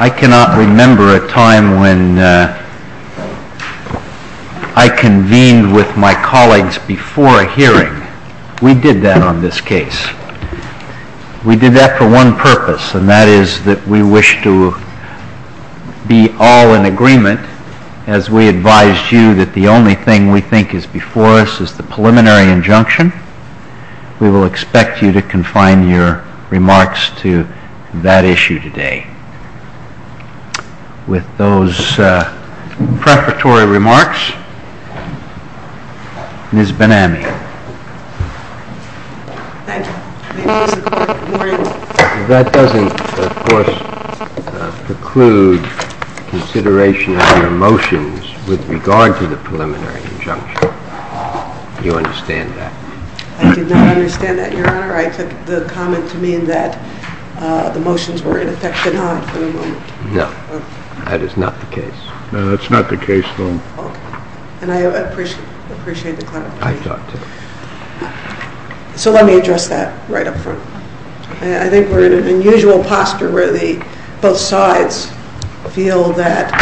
I cannot remember a time when I convened with my colleagues before a hearing. We did that on this case. We did that for one purpose, and that is that we wish to be all in agreement as we advised you that the only thing we think is before us is the preliminary injunction. We will expect you to confine your remarks to that issue today. With those preparatory remarks, Ms. Ben-Ami. That doesn't, of course, preclude consideration of your motions with regard to the preliminary injunction. Do you understand that? I do not understand that, Your Honor. I took the comment to mean that the motions were in effect for the moment. No, that is not the case. No, that's not the case, then. And I appreciate the clarification. I thought so. So let me address that right up front. I think we're in an unusual posture where both sides feel that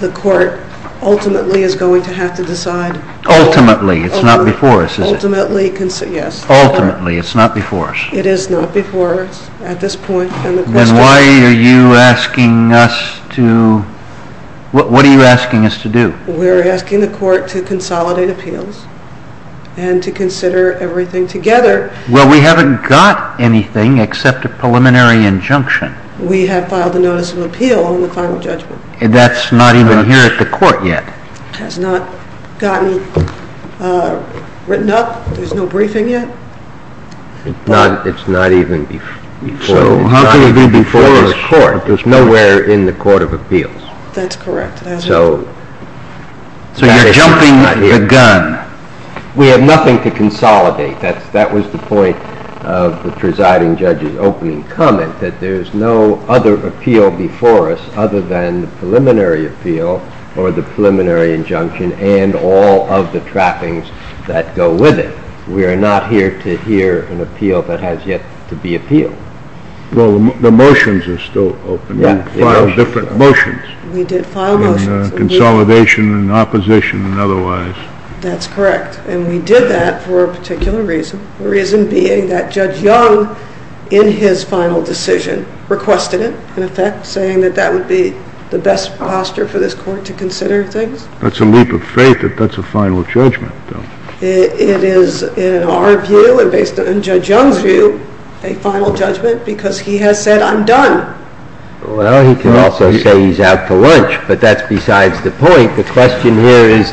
the Court ultimately is going to have to decide. Ultimately, it's not before us, is it? Ultimately, yes. Ultimately, it's not before us. It is not before us at this point. Then why are you asking us to, what are you asking us to do? We're asking the Court to consolidate appeals and to consider everything together. Well, we haven't got anything except a preliminary injunction. We have filed a notice of appeal on the final judgment. That's not even here at the Court yet. It has not gotten written up. There's no briefing yet. It's not even before us. So how can it be before this Court? It's nowhere in the Court of Appeals. That's correct. So you're jumping the gun. We have nothing to consolidate. That was the point of the presiding judge's opening comment, that there's no other appeal before us other than the preliminary appeal or the preliminary injunction and all of the trappings that go with it. We are not here to hear an appeal that has yet to be appealed. Well, the motions are still open. We filed different motions. We did file motions. Consolidation and opposition and otherwise. That's correct. And we did that for a particular reason, the reason being that Judge Young, in his final decision, requested it, in effect, saying that that would be the best posture for this Court to consider things. That's a leap of faith that that's a final judgment, though. It is, in our view and based on Judge Young's view, a final judgment because he has said, I'm done. Well, he can also say he's out to lunch, but that's besides the point. The question here is,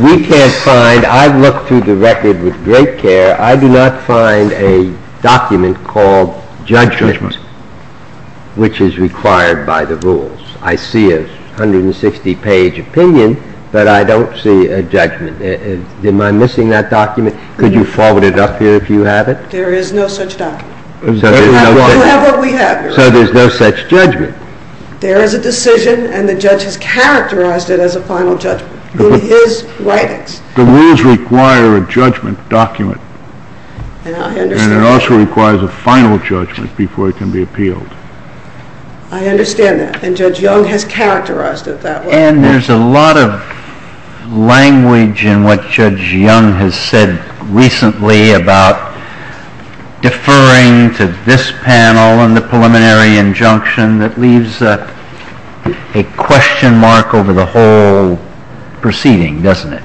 we can't find, I've looked through the record with great care, I do not find a document called judgment which is required by the rules. I see a 160-page opinion, but I don't see a judgment. Am I missing that document? Could you forward it up here if you have it? There is no such document. You have what we have. So there's no such judgment. There is a decision, and the judge has characterized it as a final judgment in his writings. The rules require a judgment document. And it also requires a final judgment before it can be appealed. I understand that, and Judge Young has characterized it that way. And there's a lot of language in what Judge Young has said recently about deferring to this panel and the preliminary injunction that leaves a question mark over the whole proceeding, doesn't it,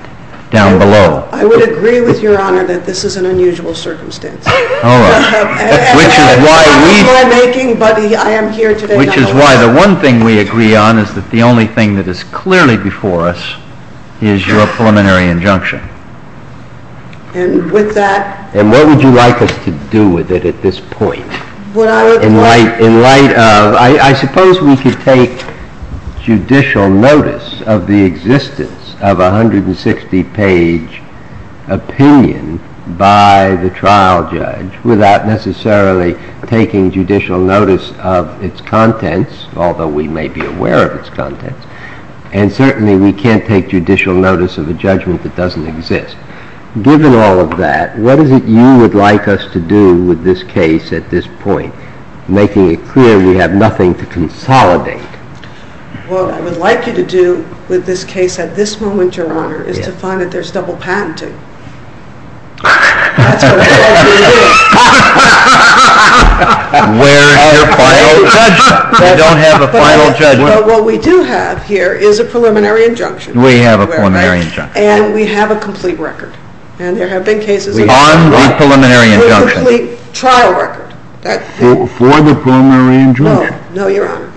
down below? I would agree with Your Honor that this is an unusual circumstance. Oh, all right. And I apologize for my making, but I am here today not alone. Which is why the one thing we agree on is that the only thing that is clearly before us is your preliminary injunction. And with that... And what would you like us to do with it at this point? Would I... In light of... I suppose we could take judicial notice of the existence of a 160-page opinion by the trial judge without necessarily taking judicial notice of its contents, although we may be aware of its contents. And certainly we can't take judicial notice of a judgment that doesn't exist. Given all of that, what is it you would like us to do with this case at this point, making it clear we have nothing to consolidate? What I would like you to do with this case at this moment, Your Honor, is to find that there's double patenting. That's what we're here to do. Where is your final judgment? You don't have a final judgment? But what we do have here is a preliminary injunction. We have a preliminary injunction. And we have a complete record. And there have been cases... On the preliminary injunction. A complete trial record. For the preliminary injunction? No, Your Honor.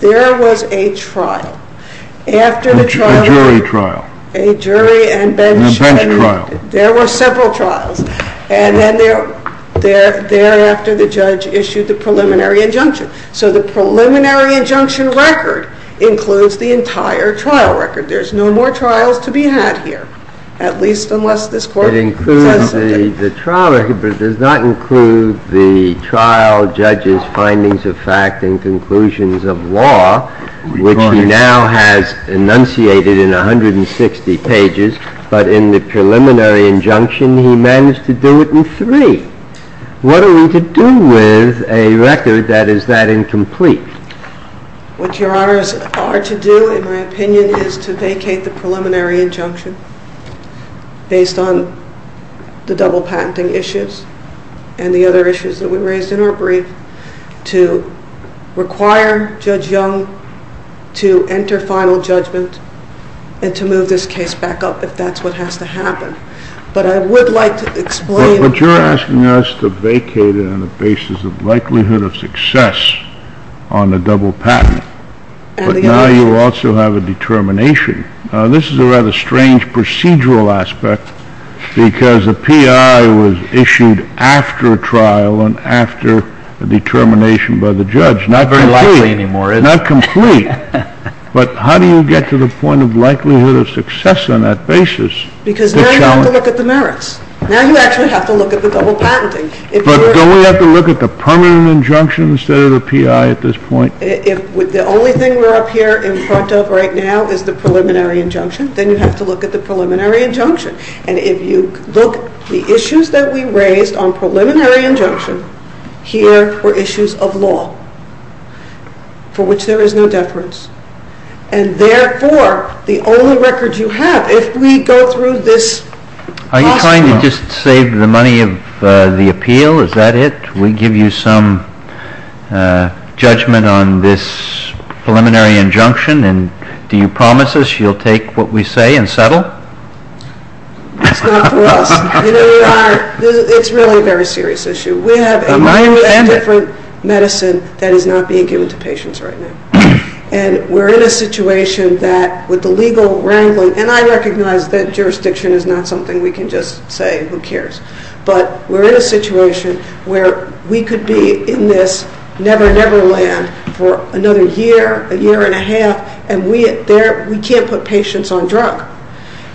There was a trial. After the trial... A jury trial. A jury and bench... And a bench trial. There were several trials. And then thereafter the judge issued the preliminary injunction. So the preliminary injunction record includes the entire trial record. There's no more trials to be had here, at least unless this Court... It includes the trial record, but it does not include the trial judge's findings of fact and conclusions of law, which he now has enunciated in 160 pages. But in the preliminary injunction, he managed to do it in three. What are we to do with a record that is that incomplete? What Your Honors are to do, in my opinion, is to vacate the preliminary injunction based on the double patenting issues and the other issues that we raised in our brief to require Judge Young to enter final judgment and to move this case back up if that's what has to happen. But I would like to explain... But you're asking us to vacate it on the basis of likelihood of success on the double patenting. But now you also have a determination. This is a rather strange procedural aspect because the PI was issued after trial and after a determination by the judge. Not complete. Not complete. But how do you get to the point of likelihood of success on that basis? Because now you have to look at the merits. Now you actually have to look at the double patenting. But don't we have to look at the permanent injunction instead of the PI at this point? If the only thing we're up here in front of right now is the preliminary injunction, then you have to look at the preliminary injunction. And if you look at the issues that we raised on preliminary injunction, here were issues of law for which there is no deference. And therefore the only record you have, if we go through this... Are you trying to just save the money of the appeal? Is that it? We give you some judgment on this preliminary injunction and do you promise us you'll take what we say and settle? That's not for us. It's really a very serious issue. We have a whole different medicine that is not being given to patients right now. And we're in a situation that with the legal wrangling, and I recognize that jurisdiction is not something we can just say who cares, but we're in a situation where we could be in this never-never land for another year, a year and a half, and we can't put patients on drug.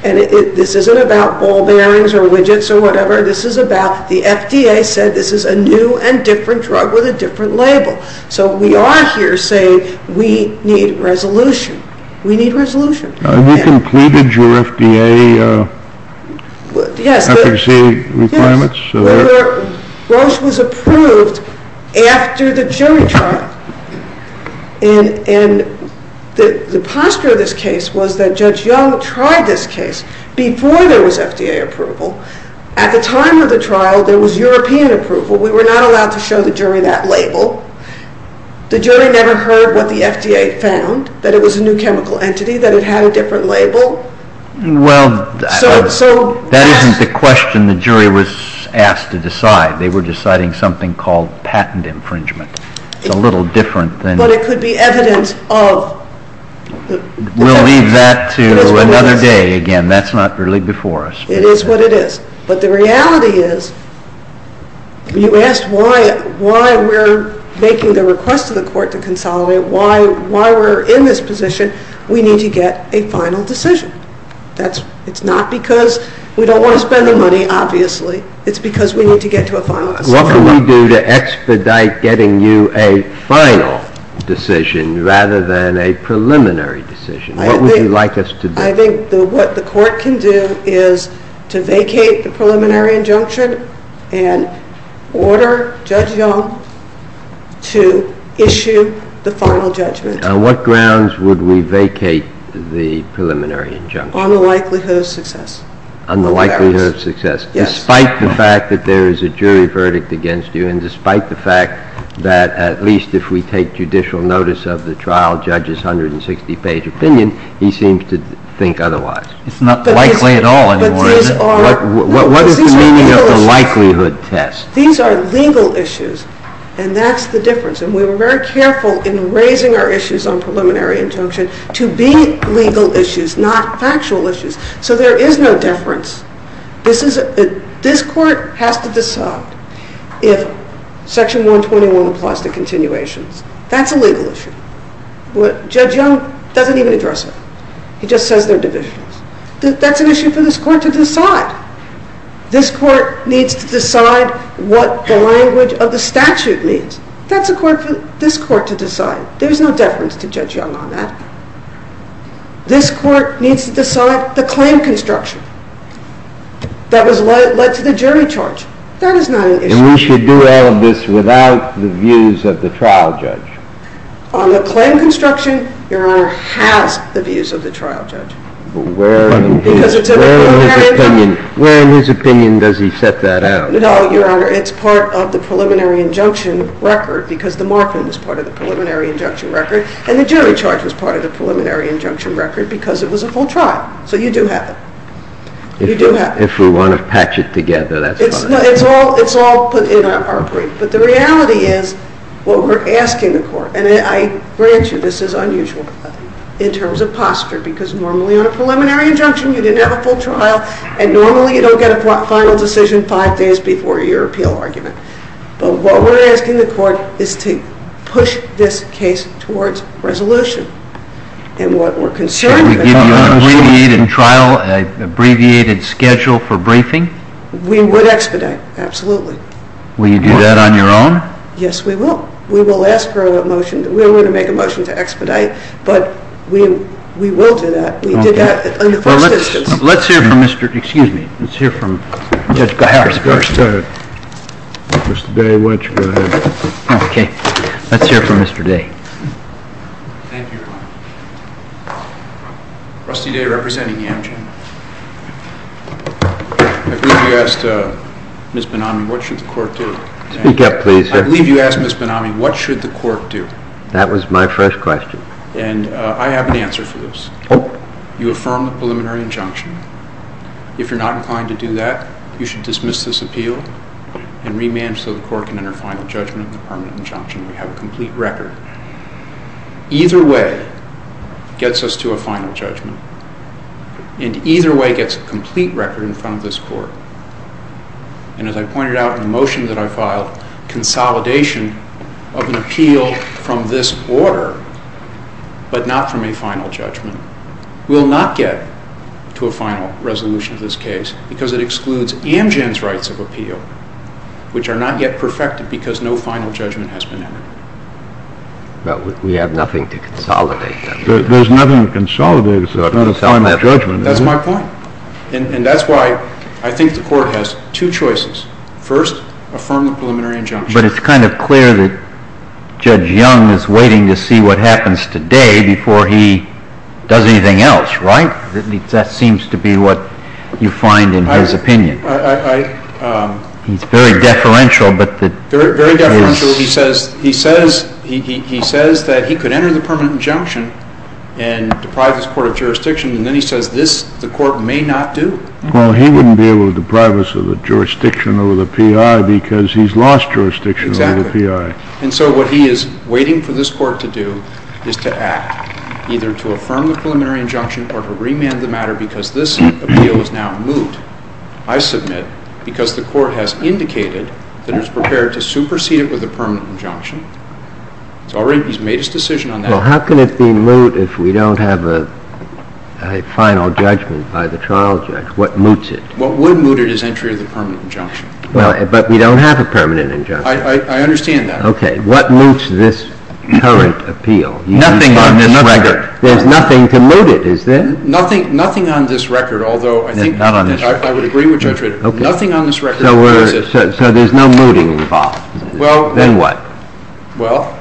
And this isn't about ball bearings or widgets or whatever. This is about the FDA said this is a new and different drug with a different label. So we are here saying we need resolution. We need resolution. Have you completed your FDA efficacy requirements? Roche was approved after the jury trial. And the posture of this case was that Judge Yo tried this case before there was FDA approval. At the time of the trial there was European approval. We were not allowed to show the jury that label. The jury never heard what the FDA found, that it was a new chemical entity, that it had a different label. Well, that isn't the question the jury was asked to decide. They were deciding something called patent infringement. It's a little different than... But it could be evidence of... We'll leave that to another day. Again, that's not really before us. It is what it is. But the reality is you asked why we're making the request to the court to consolidate, why we're in this position. We need to get a final decision. It's not because we don't want to spend the money, obviously. It's because we need to get to a final decision. What can we do to expedite getting you a final decision rather than a preliminary decision? What would you like us to do? I think what the court can do is to vacate the preliminary injunction and order Judge Young to issue the final judgment. On what grounds would we vacate the preliminary injunction? On the likelihood of success. On the likelihood of success. Despite the fact that there is a jury verdict against you and despite the fact that at least if we take judicial notice of the trial judge's 160-page opinion, he seems to think otherwise. It's not likely at all anymore. What is the meaning of the likelihood test? These are legal issues, and that's the difference. And we were very careful in raising our issues on preliminary injunction to be legal issues, not factual issues. So there is no difference. This court has to decide if Section 121 applies to continuations. That's a legal issue. Judge Young doesn't even address it. He just says they're divisions. That's an issue for this court to decide. This court needs to decide what the language of the statute means. That's a court for this court to decide. There is no deference to Judge Young on that. This court needs to decide the claim construction that was led to the jury charge. That is not an issue. And we should do all of this without the views of the trial judge? On the claim construction, Your Honor, has the views of the trial judge. But where in his opinion does he set that out? No, Your Honor, it's part of the preliminary injunction record because the morphine was part of the preliminary injunction record, and the jury charge was part of the preliminary injunction record because it was a full trial. So you do have it. If we want to patch it together, that's fine. It's all put in our brief. But the reality is what we're asking the court, and I grant you this is unusual in terms of posture because normally on a preliminary injunction you didn't have a full trial, and normally you don't get a final decision five days before your appeal argument. But what we're asking the court is to push this case towards resolution. And what we're concerned about is... Can we give you an abbreviated trial, an abbreviated schedule for briefing? We would expedite, absolutely. Will you do that on your own? Yes, we will. We will ask for a motion. We're going to make a motion to expedite, but we will do that. We did that in the first instance. Let's hear from Mr. Day. Let's hear from Mr. Day. Thank you, Your Honor. Rusty Day representing Amgen. I believe you asked Ms. Benami what should the court do. Speak up, please. I believe you asked Ms. Benami what should the court do. That was my first question. And I have an answer for this. You affirm the preliminary injunction. If you're not inclined to do that, you should dismiss this appeal and remand so the court can enter final judgment on the permanent injunction. We have a complete record. Either way gets us to a final judgment, and either way gets a complete record in front of this court. And as I pointed out in the motion that I filed, consolidation of an appeal from this order, but not from a final judgment, will not get to a final resolution of this case because it excludes Amgen's rights of appeal, which are not yet perfected because no final judgment has been entered. But we have nothing to consolidate. There's nothing to consolidate. It's not a final judgment. That's my point. And that's why I think the court has two choices. First, affirm the preliminary injunction. But it's kind of clear that Judge Young is waiting to see what happens today before he does anything else, right? That seems to be what you find in his opinion. He's very deferential. Very deferential. He says that he could enter the permanent injunction and deprive this court of jurisdiction, and then he says this the court may not do. Well, he wouldn't be able to deprive us of the jurisdiction over the P.I. because he's lost jurisdiction over the P.I. Exactly. And so what he is waiting for this court to do is to act, either to affirm the preliminary injunction or to remand the matter because this appeal is now moved. I submit because the court has indicated that it's prepared to supersede it with a permanent injunction. He's made his decision on that. Well, how can it be moved if we don't have a final judgment by the trial judge? What moves it? What would move it is entry of the permanent injunction. But we don't have a permanent injunction. I understand that. Okay. What moves this current appeal? Nothing on this record. There's nothing to move it, is there? Nothing on this record, although I think that I've heard I would agree with Judge Rader. Nothing on this record moves it. So there's no moving involved. Then what? Well,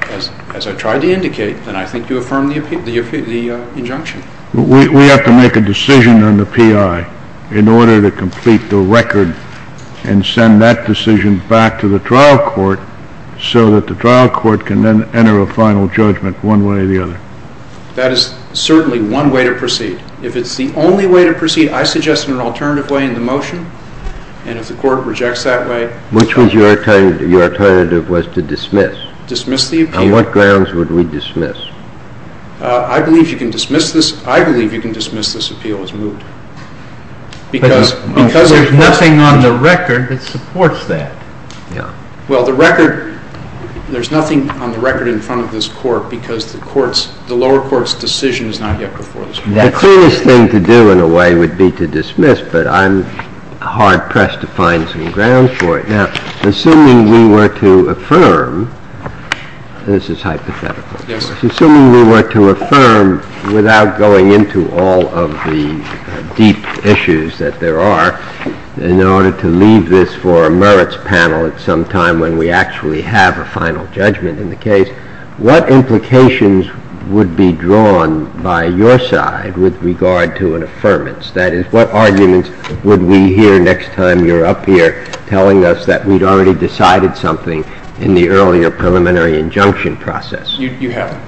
as I tried to indicate, then I think you affirm the injunction. We have to make a decision on the P.I. in order to complete the record and send that decision back to the trial court so that the trial court can then enter a final judgment one way or the other. That is certainly one way to proceed. If it's the only way to proceed, I suggest an alternative way in the motion, and if the court rejects that way. Which was your alternative? Your alternative was to dismiss. Dismiss the appeal. On what grounds would we dismiss? I believe you can dismiss this. I believe you can dismiss this appeal as moved. Because there's nothing on the record that supports that. Well, the record, there's nothing on the record in front of this court because the lower court's decision is not yet before this court. The clearest thing to do in a way would be to dismiss, but I'm hard-pressed to find some grounds for it. Assuming we were to affirm, and this is hypothetical, assuming we were to affirm without going into all of the deep issues that there are in order to leave this for a merits panel at some time when we actually have a final judgment in the case, what implications would be drawn by your side with regard to an affirmance? That is, what arguments would we hear next time you're up here telling us that we'd already decided something in the earlier preliminary injunction process? You haven't.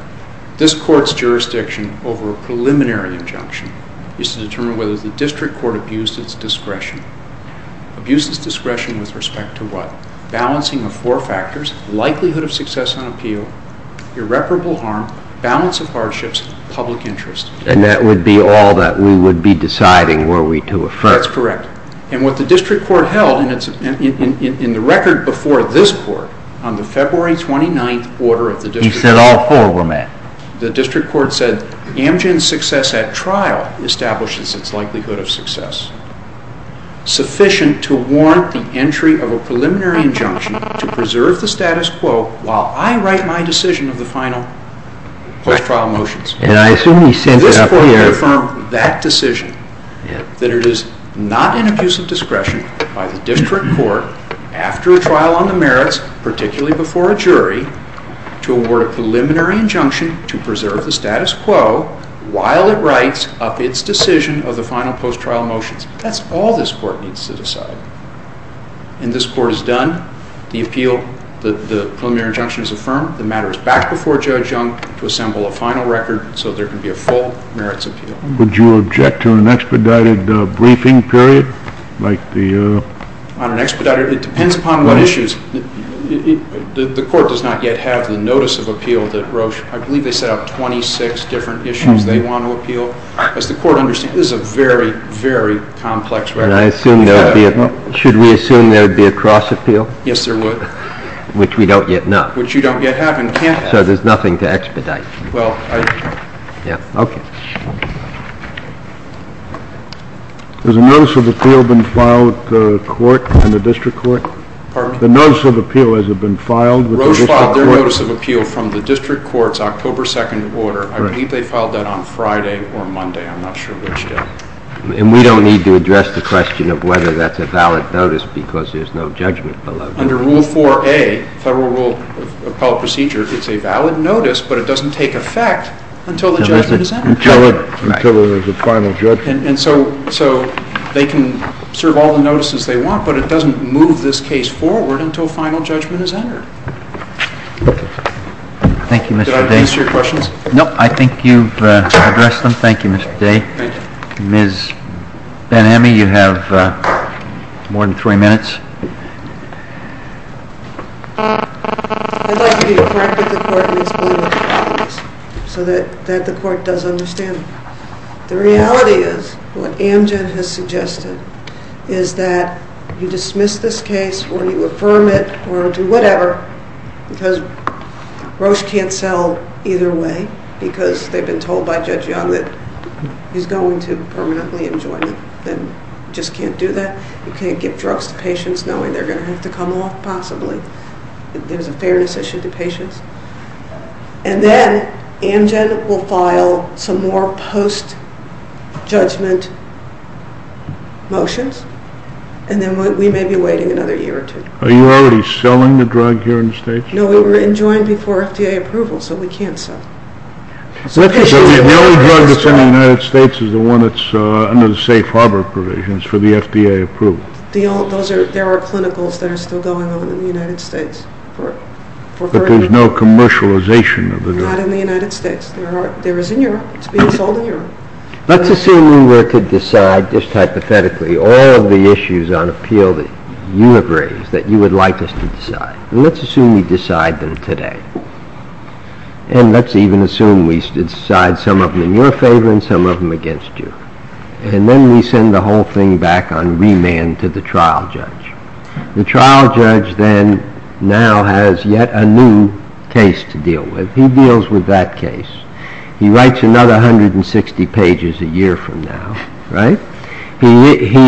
This court's jurisdiction over a preliminary injunction is to determine whether the district court abused its discretion. Abused its discretion with respect to what? A balancing of four factors, likelihood of success on appeal, irreparable harm, balance of hardships, public interest. And that would be all that we would be deciding were we to affirm. That's correct. And what the district court held in the record before this court on the February 29th order of the district court. You said all four were met. The district court said, Amgen's success at trial establishes its likelihood of success. Sufficient to warrant the entry of a preliminary injunction to preserve the status quo while I write my decision of the final post-trial motions. And I assume he sent it up here. This court affirmed that decision, that it is not an abuse of discretion by the district court after a trial on the merits, particularly before a jury, to award a preliminary injunction to preserve the status quo while it writes up its decision of the final post-trial motions. That's all this court needs to decide. And this court is done. The appeal, the preliminary injunction is affirmed. The matter is back before Judge Young to assemble a final record so there can be a full merits appeal. Would you object to an expedited briefing period? On an expedited? It depends upon what issues. The court does not yet have the notice of appeal that Roche, I believe they set up 26 different issues they want to appeal. As the court understands, this is a very, very complex record. Should we assume there would be a cross-appeal? Yes, there would. Which we don't yet have. Which you don't yet have. So there's nothing to expedite. Okay. Has a notice of appeal been filed with the court and the district court? Pardon? The notice of appeal has it been filed with the district court? They filed their notice of appeal from the district court's October 2nd order. I believe they filed that on Friday or Monday. I'm not sure which day. And we don't need to address the question of whether that's a valid notice because there's no judgment below that. Under Rule 4A, Federal Rule of Appellate Procedure, it's a valid notice, but it doesn't take effect until the judgment is entered. Until there's a final judgment. And so they can serve all the notices they want, but it doesn't move this case forward until a final judgment is entered. Thank you, Mr. Day. Did I address your questions? No. I think you've addressed them. Thank you, Mr. Day. Thank you. Ms. Ben-Amy, you have more than three minutes. I'd like you to correct what the court needs to do with the qualities so that the court does understand them. The reality is what Amgen has suggested is that you dismiss this case or you affirm it or do whatever because Roche can't sell either way because they've been told by Judge Young that he's going to permanently enjoin it. Then you just can't do that. You can't give drugs to patients knowing they're going to have to come off possibly. There's a fairness issue to patients. And then Amgen will file some more post-judgment motions, and then we may be waiting another year or two. Are you already selling the drug here in the States? No, we were enjoined before FDA approval, so we can't sell. The only drug that's in the United States is the one that's under the safe harbor provisions for the FDA approval. There are clinicals that are still going on in the United States. But there's no commercialization of the drug. Not in the United States. There is in Europe. It's being sold in Europe. Let's assume we were to decide just hypothetically all of the issues on appeal that you have raised that you would like us to decide. Let's assume we decide them today. And let's even assume we decide some of them in your favor and some of them against you. And then we send the whole thing back on remand to the trial judge. The trial judge then now has yet a new case to deal with. He deals with that case. He writes another 160 pages a year from now. He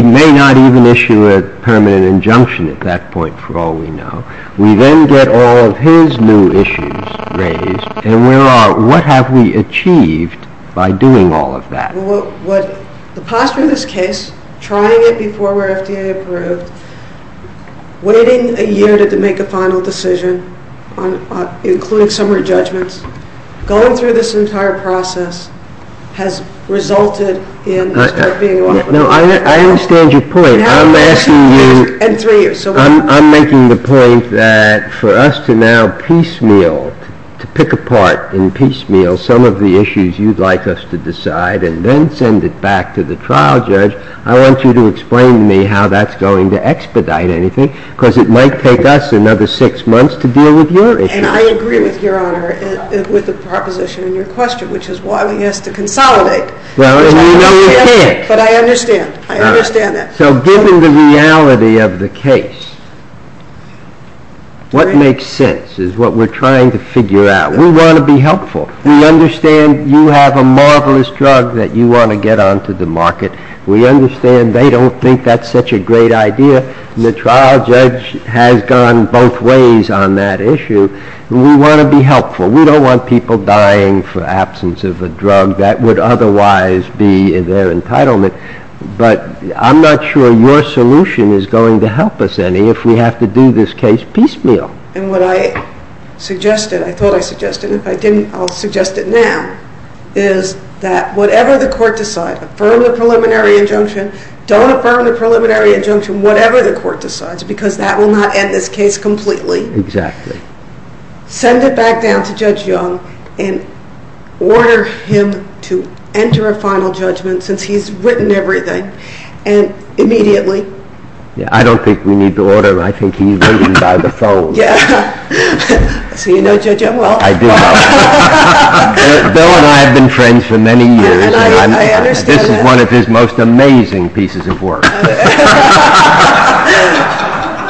may not even issue a permanent injunction at that point for all we know. We then get all of his new issues raised, and what have we achieved by doing all of that? The posture of this case, trying it before we're FDA approved, waiting a year to make a final decision, including summary judgments, going through this entire process has resulted in this drug being offered. I understand your point. I'm making the point that for us to now piecemeal, to pick apart and piecemeal some of the issues you'd like us to decide and then send it back to the trial judge, I want you to explain to me how that's going to expedite anything, because it might take us another six months to deal with your issues. And I agree with Your Honor with the proposition in your question, which is why we have to consolidate. Well, and you really can't. But I understand. I understand that. So given the reality of the case, what makes sense is what we're trying to figure out. We want to be helpful. We understand you have a marvelous drug that you want to get onto the market. We understand they don't think that's such a great idea. The trial judge has gone both ways on that issue. We want to be helpful. We don't want people dying for absence of a drug that would otherwise be their entitlement. But I'm not sure your solution is going to help us any if we have to do this case piecemeal. And what I suggested, I thought I suggested, if I didn't, I'll suggest it now, is that whatever the court decides, affirm the preliminary injunction, don't affirm the preliminary injunction, whatever the court decides, because that will not end this case completely. Exactly. Send it back down to Judge Young and order him to enter a final judgment, since he's written everything, and immediately. I don't think we need to order him. I think he's waiting by the phone. So you know Judge Young well. I do know him. Bill and I have been friends for many years. And I understand that. This is one of his most amazing pieces of work.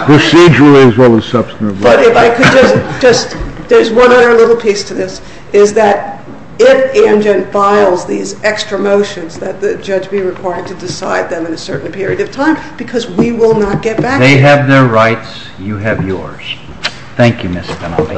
Procedurally as well as substantively. But if I could just, there's one other little piece to this, is that if Amgen files these extra motions, that the judge be required to decide them in a certain period of time, because we will not get back to you. They have their rights. You have yours. Thank you, Mr. Penalty. Okay. Thank you very much. All rise.